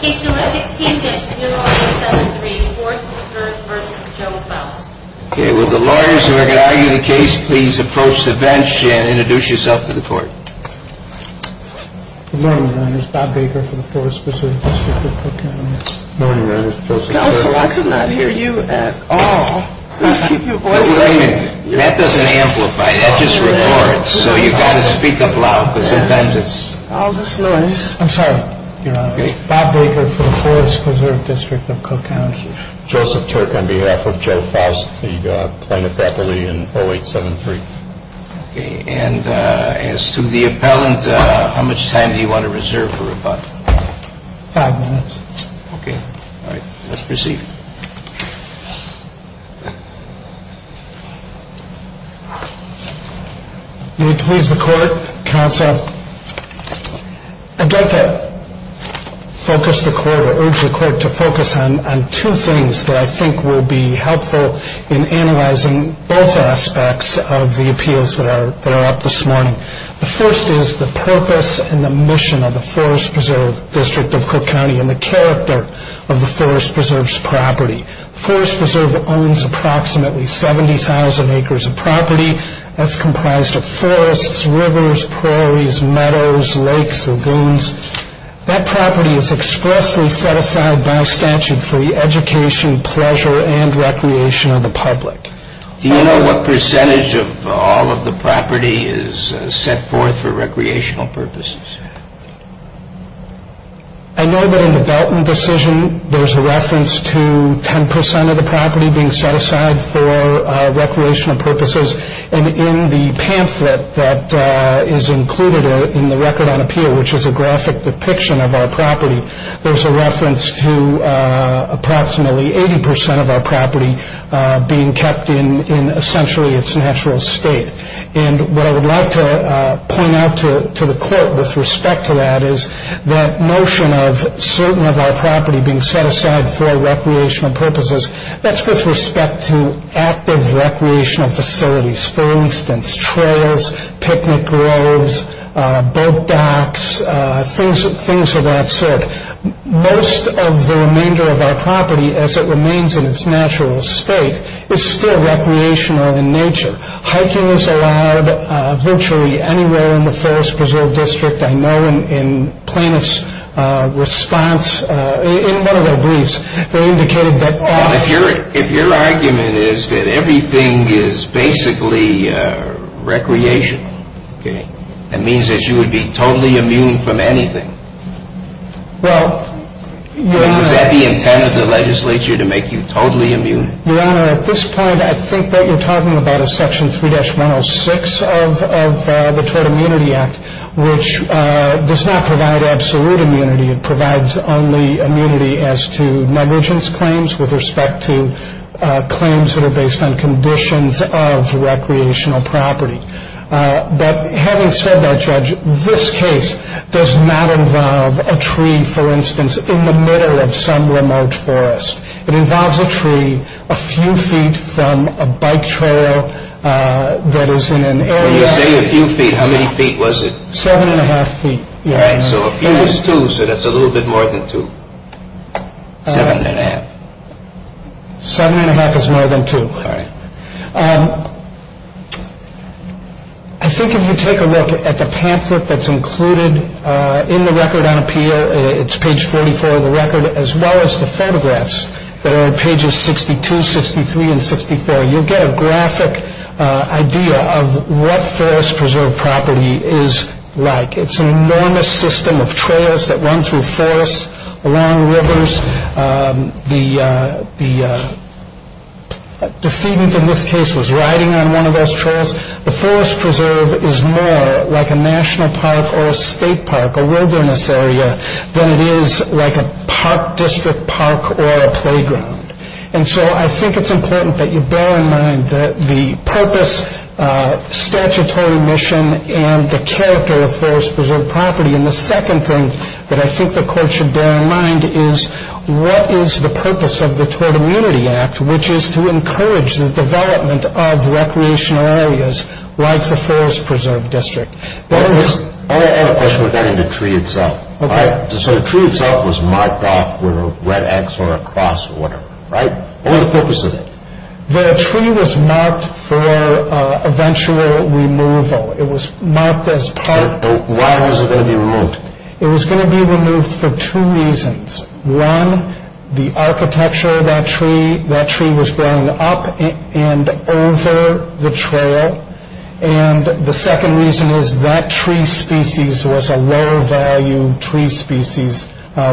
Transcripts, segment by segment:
Case No. 16-0873, Forest Preserve v. Joe Foust I'm Bob Baker for the Forest Preserve District of Cook County. Joseph Turk on behalf of Joe Foust, the Plano faculty in 0873. And as to the appellant, how much time do you want to reserve for rebuttal? Five minutes. Okay. All right. Let's proceed. May it please the Court, Counsel. I'd like to focus the Court, or urge the Court to focus on two things that I think will be helpful in analyzing both aspects of the appeals that are up this morning. The first is the purpose and the mission of the Forest Preserve District of Cook County and the character of the Forest Preserve's property. Forest Preserve owns approximately 70,000 acres of property that's comprised of forests, rivers, prairies, meadows, lakes, lagoons. That property is expressly set aside by statute for the education, pleasure, and recreation of the public. Do you know what percentage of all of the property is set forth for recreational purposes? I know that in the Belton decision, there's a reference to 10% of the property being set aside for recreational purposes. And in the pamphlet that is included in the record on appeal, which is a graphic depiction of our property, there's a reference to approximately 80% of our property being kept in essentially its natural state. And what I would like to point out to the Court with respect to that is that notion of certain of our property being set aside for recreational purposes, that's with respect to active recreational facilities. For instance, trails, picnic groves, boat docks, things of that sort. Most of the remainder of our property, as it remains in its natural state, is still recreational in nature. Hiking is allowed virtually anywhere in the Forest Preserve District. I know in plaintiff's response, in one of their briefs, they indicated that off- If your argument is that everything is basically recreational, okay, that means that you would be totally immune from anything. Well, Your Honor- Is that the intent of the legislature, to make you totally immune? Your Honor, at this point, I think what you're talking about is Section 3-106 of the Tort Immunity Act, which does not provide absolute immunity. It provides only immunity as to negligence claims with respect to claims that are based on conditions of recreational property. But having said that, Judge, this case does not involve a tree, for instance, in the middle of some remote forest. It involves a tree a few feet from a bike trail that is in an area- When you say a few feet, how many feet was it? Seven and a half feet, Your Honor. All right, so a few is two, so that's a little bit more than two. Seven and a half. Seven and a half is more than two. All right. I think if you take a look at the pamphlet that's included in the record on appeal, it's page 44 of the record, as well as the photographs that are on pages 62, 63, and 64, you'll get a graphic idea of what forest preserve property is like. It's an enormous system of trails that run through forests, along rivers. The decedent in this case was riding on one of those trails. The forest preserve is more like a national park or a state park, a wilderness area, than it is like a park district park or a playground. And so I think it's important that you bear in mind the purpose, statutory mission, and the character of forest preserve property. And the second thing that I think the Court should bear in mind is what is the purpose of the Tort Immunity Act, which is to encourage the development of recreational areas like the Forest Preserve District. I have a question regarding the tree itself. Okay. So the tree itself was marked off with a red X or a cross or whatever, right? What was the purpose of it? The tree was marked for eventual removal. It was marked as part. Why was it going to be removed? It was going to be removed for two reasons. One, the architecture of that tree. That tree was growing up and over the trail. And the second reason is that tree species was a low-value tree species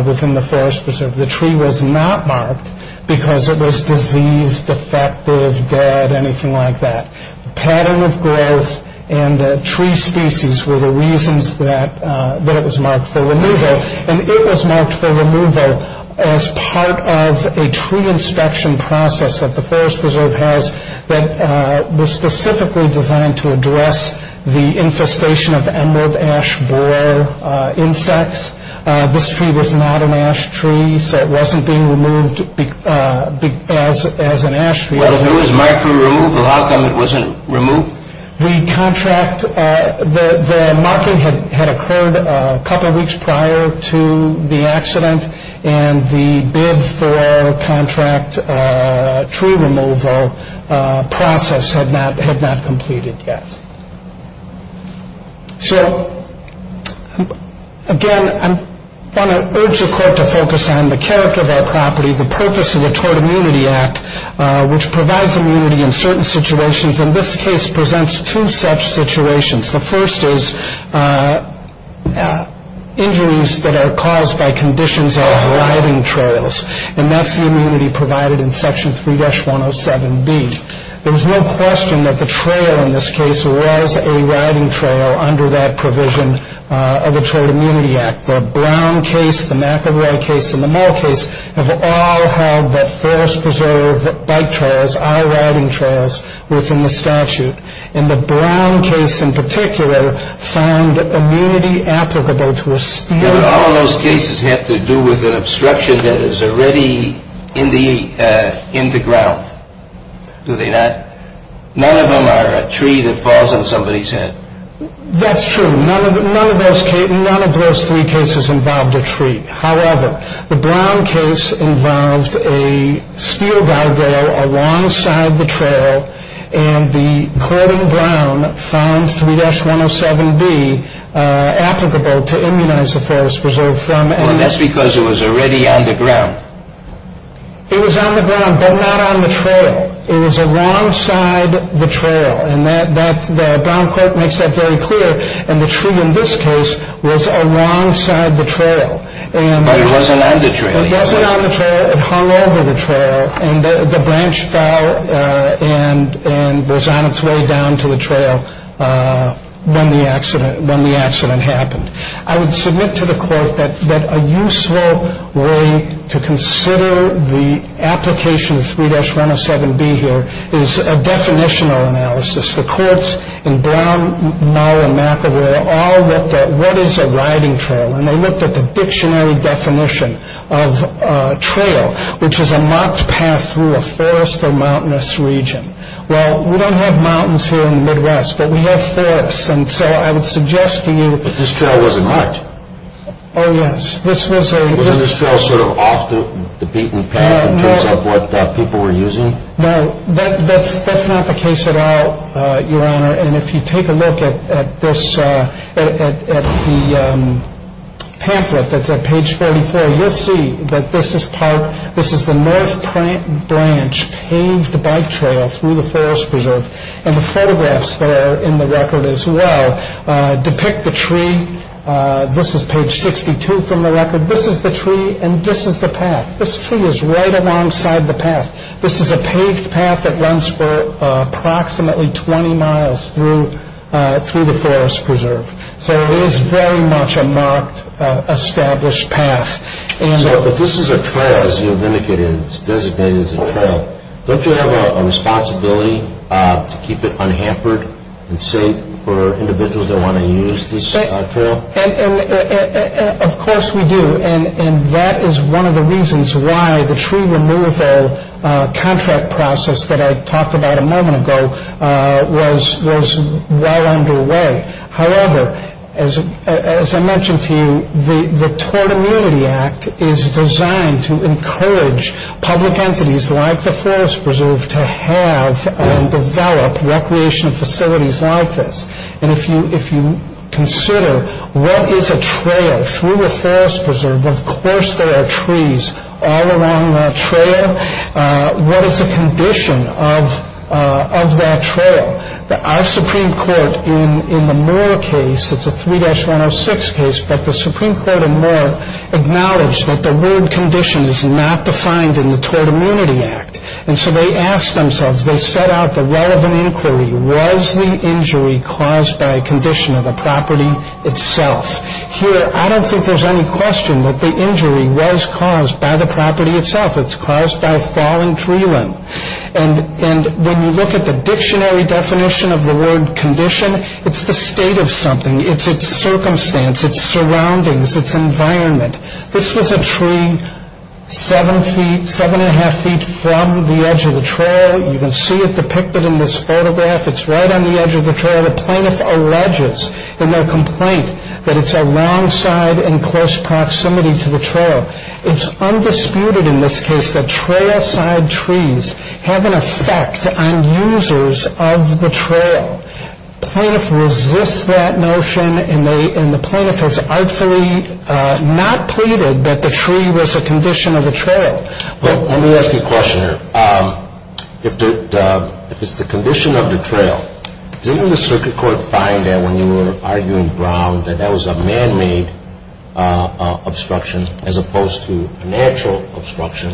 within the Forest Preserve. The tree was not marked because it was diseased, defective, dead, anything like that. The pattern of growth and the tree species were the reasons that it was marked for removal. And it was marked for removal as part of a tree inspection process that the Forest Preserve has that was specifically designed to address the infestation of emerald ash borer insects. This tree was not an ash tree, so it wasn't being removed as an ash tree. Well, if it was marked for removal, how come it wasn't removed? The contract, the marking had occurred a couple weeks prior to the accident, and the bid for contract tree removal process had not completed yet. So, again, I want to urge the Court to focus on the character of our property, the purpose of the Tort Immunity Act, which provides immunity in certain situations. And this case presents two such situations. The first is injuries that are caused by conditions of riding trails, and that's the immunity provided in Section 3-107B. There's no question that the trail in this case was a riding trail under that provision of the Tort Immunity Act. The Brown case, the McElroy case, and the Moore case have all had that Forest Preserve bike trails, our riding trails, within the statute. And the Brown case in particular found immunity applicable to a steel- But all of those cases have to do with an obstruction that is already in the ground, do they not? None of them are a tree that falls on somebody's head. That's true. None of those three cases involved a tree. However, the Brown case involved a steel guardrail alongside the trail, and the court in Brown found 3-107B applicable to immunize the Forest Preserve from- Well, and that's because it was already on the ground. It was on the ground, but not on the trail. It was alongside the trail, and that- was alongside the trail. But it wasn't on the trail. It wasn't on the trail. It hung over the trail. And the branch fell and was on its way down to the trail when the accident happened. I would submit to the Court that a useful way to consider the application of 3-107B here is a definitional analysis. The courts in Brown, Mauer, and McAvoy all looked at what is a riding trail, and they looked at the dictionary definition of a trail, which is a marked path through a forest or mountainous region. Well, we don't have mountains here in the Midwest, but we have forests, and so I would suggest to you- But this trail wasn't marked. Oh, yes. This was a- Wasn't this trail sort of off the beaten path in terms of what people were using? No, that's not the case at all, Your Honor. And if you take a look at this-at the pamphlet that's at page 44, you'll see that this is part-this is the north branch paved bike trail through the forest preserve. And the photographs that are in the record as well depict the tree. This is page 62 from the record. This is the tree, and this is the path. This tree is right alongside the path. This is a paved path that runs for approximately 20 miles through the forest preserve. So it is very much a marked, established path. But this is a trail, as you have indicated. It's designated as a trail. Don't you have a responsibility to keep it unhampered and safe for individuals that want to use this trail? Of course we do, and that is one of the reasons why the tree removal contract process that I talked about a moment ago was well underway. However, as I mentioned to you, the Tort Immunity Act is designed to encourage public entities like the forest preserve to have and develop recreation facilities like this. And if you consider what is a trail through a forest preserve, of course there are trees all along that trail. What is a condition of that trail? Our Supreme Court in the Moore case, it's a 3-106 case, but the Supreme Court of Moore acknowledged that the word condition is not defined in the Tort Immunity Act. And so they asked themselves, they set out the relevant inquiry. Was the injury caused by a condition of the property itself? Here, I don't think there's any question that the injury was caused by the property itself. It's caused by a fallen tree limb. And when you look at the dictionary definition of the word condition, it's the state of something. It's its circumstance, its surroundings, its environment. This was a tree seven feet, seven and a half feet from the edge of the trail. You can see it depicted in this photograph. It's right on the edge of the trail. The plaintiff alleges in their complaint that it's alongside in close proximity to the trail. It's undisputed in this case that trailside trees have an effect on users of the trail. Plaintiff resists that notion, and the plaintiff has artfully not pleaded that the tree was a condition of the trail. Well, let me ask you a question here. If it's the condition of the trail, didn't the circuit court find that when you were arguing Brown that that was a man-made obstruction as opposed to a natural obstruction,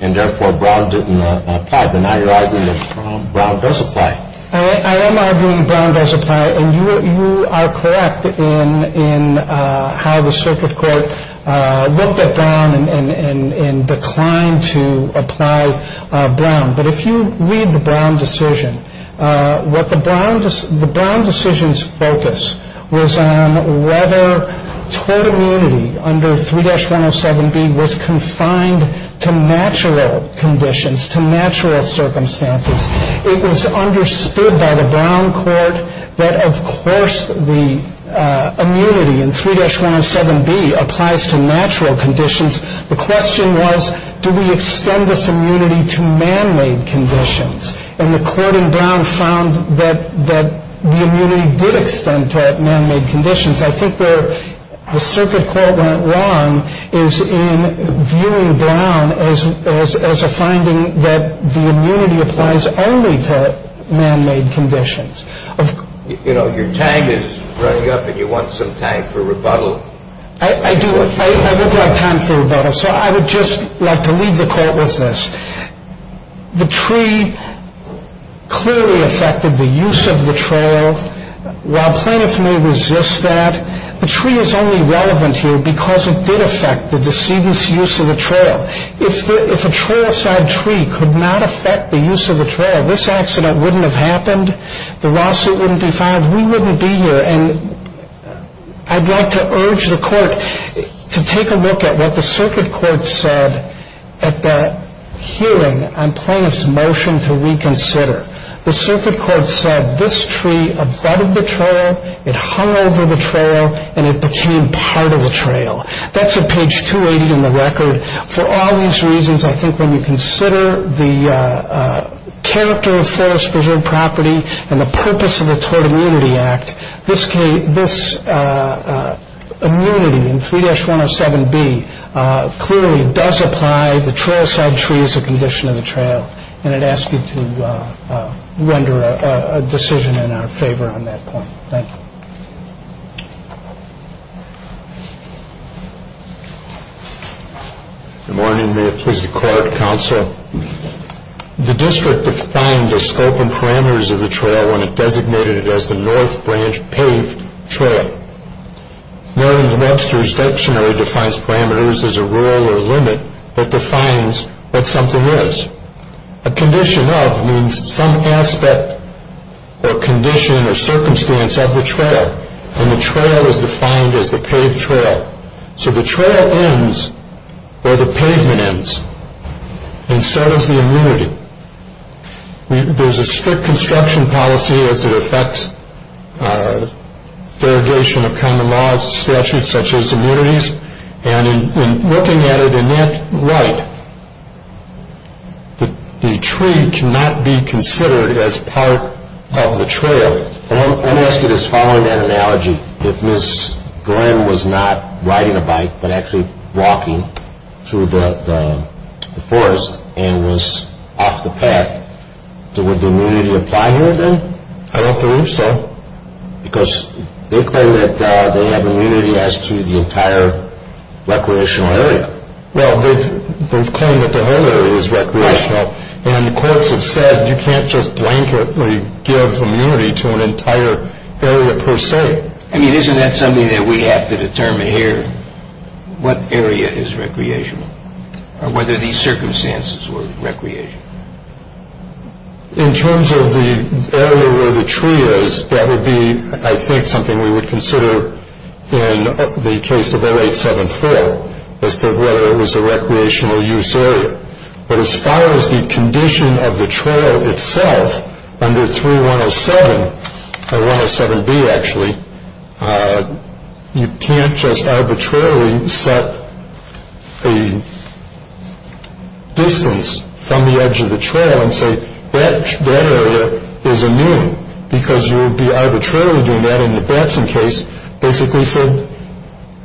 and therefore Brown didn't apply? But now you're arguing that Brown does apply. I am arguing Brown does apply, and you are correct in how the circuit court looked at Brown and declined to apply Brown. But if you read the Brown decision, what the Brown decision's focus was on was whether tort immunity under 3-107B was confined to natural conditions, to natural circumstances. It was understood by the Brown court that, of course, the immunity in 3-107B applies to natural conditions. The question was, do we extend this immunity to man-made conditions? And the court in Brown found that the immunity did extend to man-made conditions. I think where the circuit court went wrong is in viewing Brown as a finding that the immunity applies only to man-made conditions. You know, your tank is running up, and you want some time for rebuttal. I do. I would like time for rebuttal. So I would just like to leave the court with this. The tree clearly affected the use of the trail. While plaintiffs may resist that, the tree is only relevant here because it did affect the decedent's use of the trail. If a trailside tree could not affect the use of the trail, this accident wouldn't have happened. The lawsuit wouldn't be filed. We wouldn't be here. And I'd like to urge the court to take a look at what the circuit court said at that hearing on plaintiffs' motion to reconsider. The circuit court said this tree abetted the trail, it hung over the trail, and it became part of the trail. That's at page 280 in the record. For all these reasons, I think when you consider the character of forest-preserved property and the purpose of the Tort Immunity Act, this immunity in 3-107B clearly does apply. The trailside tree is a condition of the trail. And I'd ask you to render a decision in our favor on that point. Thank you. Good morning. May it please the court, counsel. The district defined the scope and parameters of the trail when it designated it as the North Branch Pave Trail. Merlin Webster's dictionary defines parameters as a rule or limit that defines what something is. A condition of means some aspect or condition or circumstance of the trail. And the trail is defined as the paved trail. So the trail ends where the pavement ends. And so does the immunity. There's a strict construction policy as it affects derogation of kind of laws and statutes such as immunities. And in looking at it in that light, the tree cannot be considered as part of the trail. And I'm asking this following that analogy, if Ms. Glenn was not riding a bike but actually walking through the forest and was off the path, would the immunity apply here then? I don't believe so. Because they claim that they have immunity as to the entire recreational area. Well, they've claimed that the whole area is recreational. And the courts have said you can't just blanketly give immunity to an entire area per se. I mean, isn't that something that we have to determine here? What area is recreational? Whether these circumstances were recreational. In terms of the area where the tree is, that would be, I think, something we would consider in the case of 0874 as to whether it was a recreational use area. But as far as the condition of the trail itself under 3107, or 107B actually, you can't just arbitrarily set a distance from the edge of the trail and say that area is immune because you would be arbitrarily doing that. And the Branson case basically said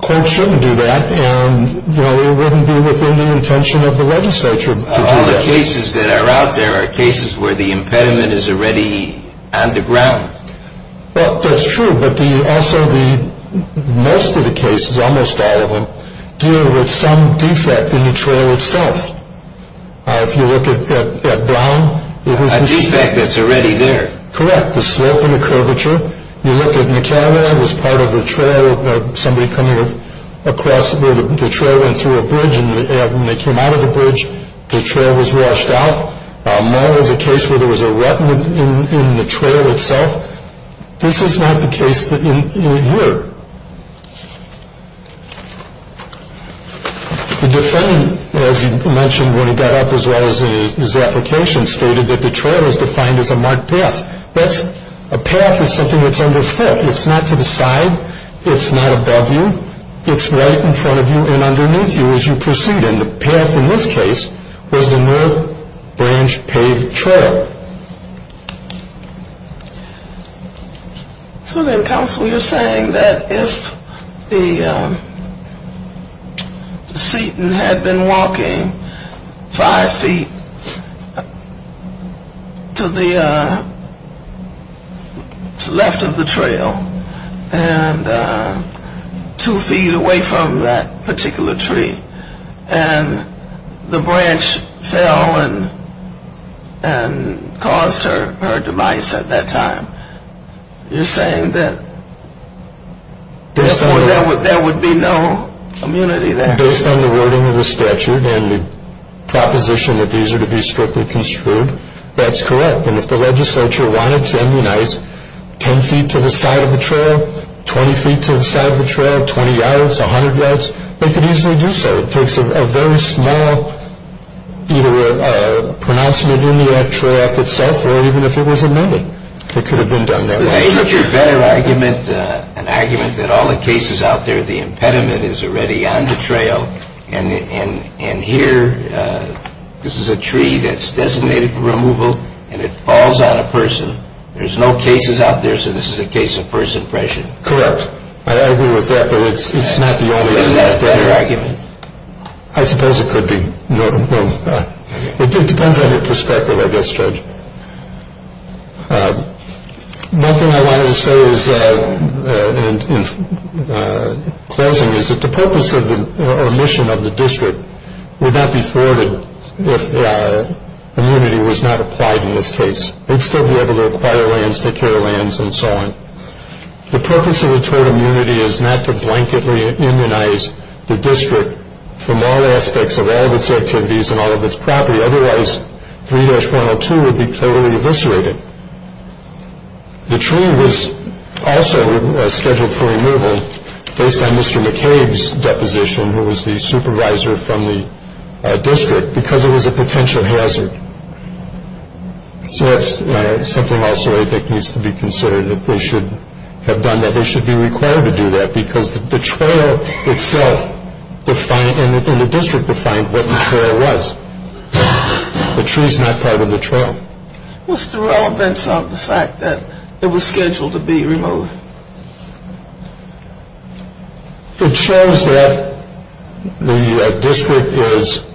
courts shouldn't do that and it wouldn't be within the intention of the legislature to do that. All the cases that are out there are cases where the impediment is already on the ground. Well, that's true, but also most of the cases, almost all of them, deal with some defect in the trail itself. If you look at Brown. A defect that's already there. Correct. The slope and the curvature. You look at McCarran, that was part of the trail, somebody coming across where the trail went through a bridge and they came out of the bridge, the trail was washed out. Mull is a case where there was a rut in the trail itself. This is not the case here. The defendant, as you mentioned when he got up as well as in his application, stated that the trail is defined as a marked path. A path is something that's underfoot. It's not to the side. It's not above you. It's right in front of you and underneath you as you proceed. And the path in this case was the North Branch Pave Trail. So then, counsel, you're saying that if Seton had been walking five feet to the left of the trail and two feet away from that particular tree and the branch fell and caused her demise at that time, you're saying that there would be no immunity there? Based on the wording of the statute and the proposition that these are to be strictly construed, that's correct. And if the legislature wanted to immunize 10 feet to the side of the trail, 20 feet to the side of the trail, 20 yards, 100 yards, they could easily do so. It takes a very small either pronouncement in the Act Trail Act itself or even if it was amended, it could have been done that way. Isn't your better argument an argument that all the cases out there, the impediment is already on the trail and here this is a tree that's designated for removal and it falls on a person. There's no cases out there, so this is a case of person pressure. Correct. I agree with that, but it's not the only argument. I suppose it could be. It depends on your perspective, I guess, Judge. Nothing I wanted to say in closing is that the purpose or mission of the district would not be thwarted if immunity was not applied in this case. They'd still be able to acquire lands, take care of lands, and so on. The purpose of a tort immunity is not to blanketly immunize the district from all aspects of all of its activities and all of its property. Otherwise, 3-102 would be totally eviscerated. The tree was also scheduled for removal based on Mr. McCabe's deposition, who was the supervisor from the district, because it was a potential hazard. So that's something also that needs to be considered, that they should have done that. They should be required to do that because the trail itself and the district defined what the trail was. The tree is not part of the trail. What's the relevance of the fact that it was scheduled to be removed? It shows that the district is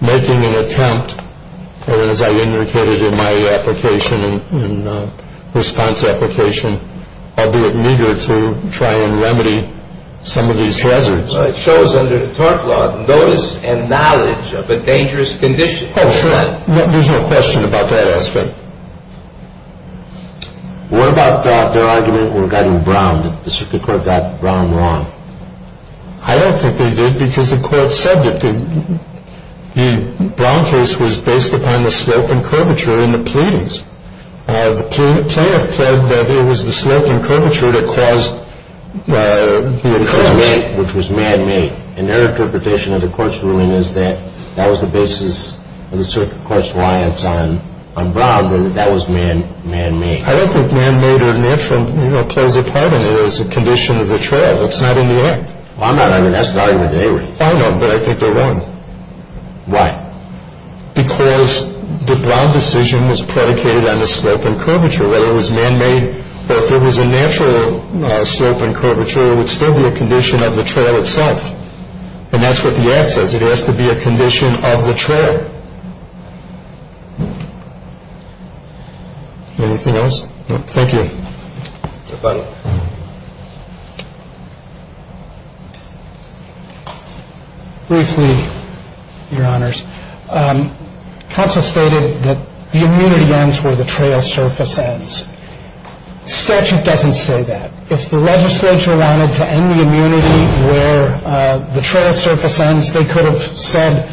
making an attempt, and as I indicated in my application and response application, I'll do it neither to try and remedy some of these hazards. It shows under the tort law notice and knowledge of a dangerous condition. Oh, sure. There's no question about that aspect. What about their argument regarding Brown, that the district court got Brown wrong? I don't think they did because the court said that the Brown case was based upon the slope and curvature in the pleadings. The plaintiff pled that it was the slope and curvature that caused the occurrence, which was man-made, and their interpretation of the court's ruling is that that was the basis of the circuit court's reliance on Brown, that that was man-made. I don't think man-made or natural plays a part in it as a condition of the trail. It's not in the act. I'm not arguing that. That's an argument they raised. I know, but I think they're wrong. Why? Because the Brown decision was predicated on the slope and curvature, whether it was man-made or if it was a natural slope and curvature, it would still be a condition of the trail itself. And that's what the act says. It has to be a condition of the trail. Anything else? No. Thank you. Mr. Butler. Briefly, Your Honors, counsel stated that the immunity ends where the trail surface ends. Statute doesn't say that. If the legislature wanted to end the immunity where the trail surface ends, they could have said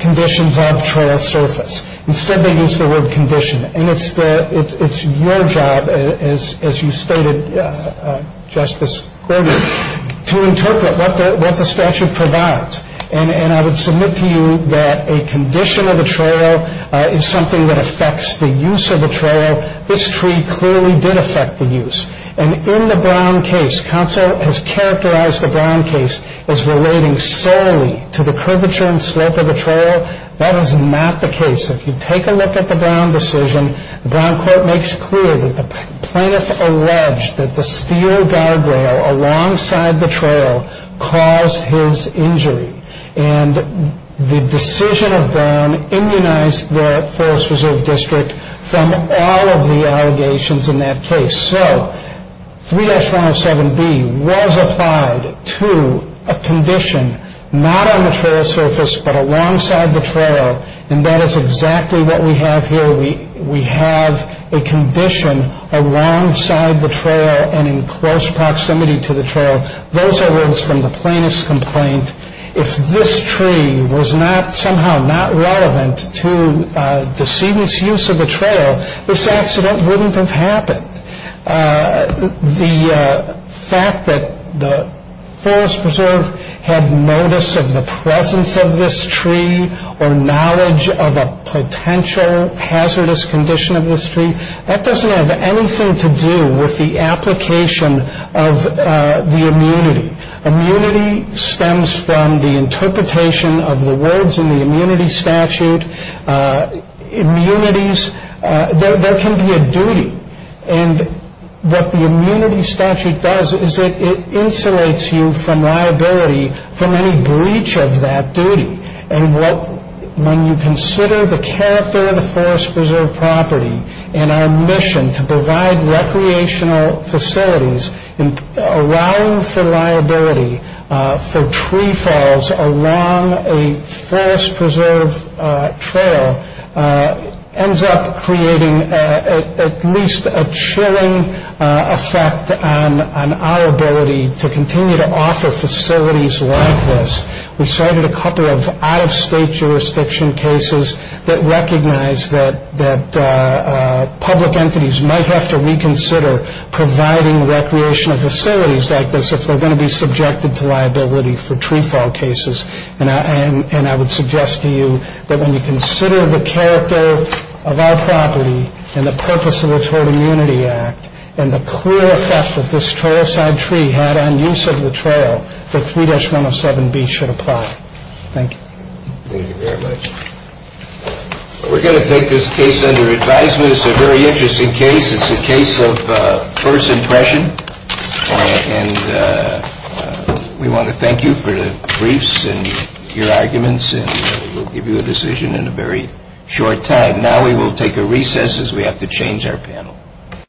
conditions of trail surface. Instead, they used the word condition. And it's your job, as you stated, Justice Gordon, to interpret what the statute provides. And I would submit to you that a condition of the trail is something that affects the use of the trail. This tree clearly did affect the use. And in the Brown case, counsel has characterized the Brown case as relating solely to the curvature and slope of the trail. That is not the case. If you take a look at the Brown decision, Brown court makes clear that the plaintiff alleged that the steel guardrail alongside the trail caused his injury. And the decision of Brown immunized the Forest Reserve District from all of the allegations in that case. So 3-107B was applied to a condition not on the trail surface but alongside the trail. And that is exactly what we have here. We have a condition alongside the trail and in close proximity to the trail. Those are words from the plaintiff's complaint. If this tree was somehow not relevant to decedent's use of the trail, this accident wouldn't have happened. The fact that the Forest Preserve had notice of the presence of this tree or knowledge of a potential hazardous condition of this tree, that doesn't have anything to do with the application of the immunity. Immunity stems from the interpretation of the words in the immunity statute. Immunities, there can be a duty. And what the immunity statute does is it insulates you from liability from any breach of that duty. And when you consider the character of the Forest Preserve property and our mission to provide recreational facilities allowing for liability for tree falls along a Forest Preserve trail ends up creating at least a chilling effect on our ability to continue to offer facilities like this. We cited a couple of out-of-state jurisdiction cases that recognize that public entities might have to reconsider providing recreational facilities like this if they're going to be subjected to liability for tree fall cases. And I would suggest to you that when you consider the character of our property and the purpose of the Trail Immunity Act and the clear effect that this trailside tree had on use of the trail, the 3-107B should apply. Thank you. Thank you very much. We're going to take this case under advisement. It's a very interesting case. It's a case of first impression. And we want to thank you for the briefs and your arguments. And we'll give you a decision in a very short time. Now we will take a recess as we have to change our panel.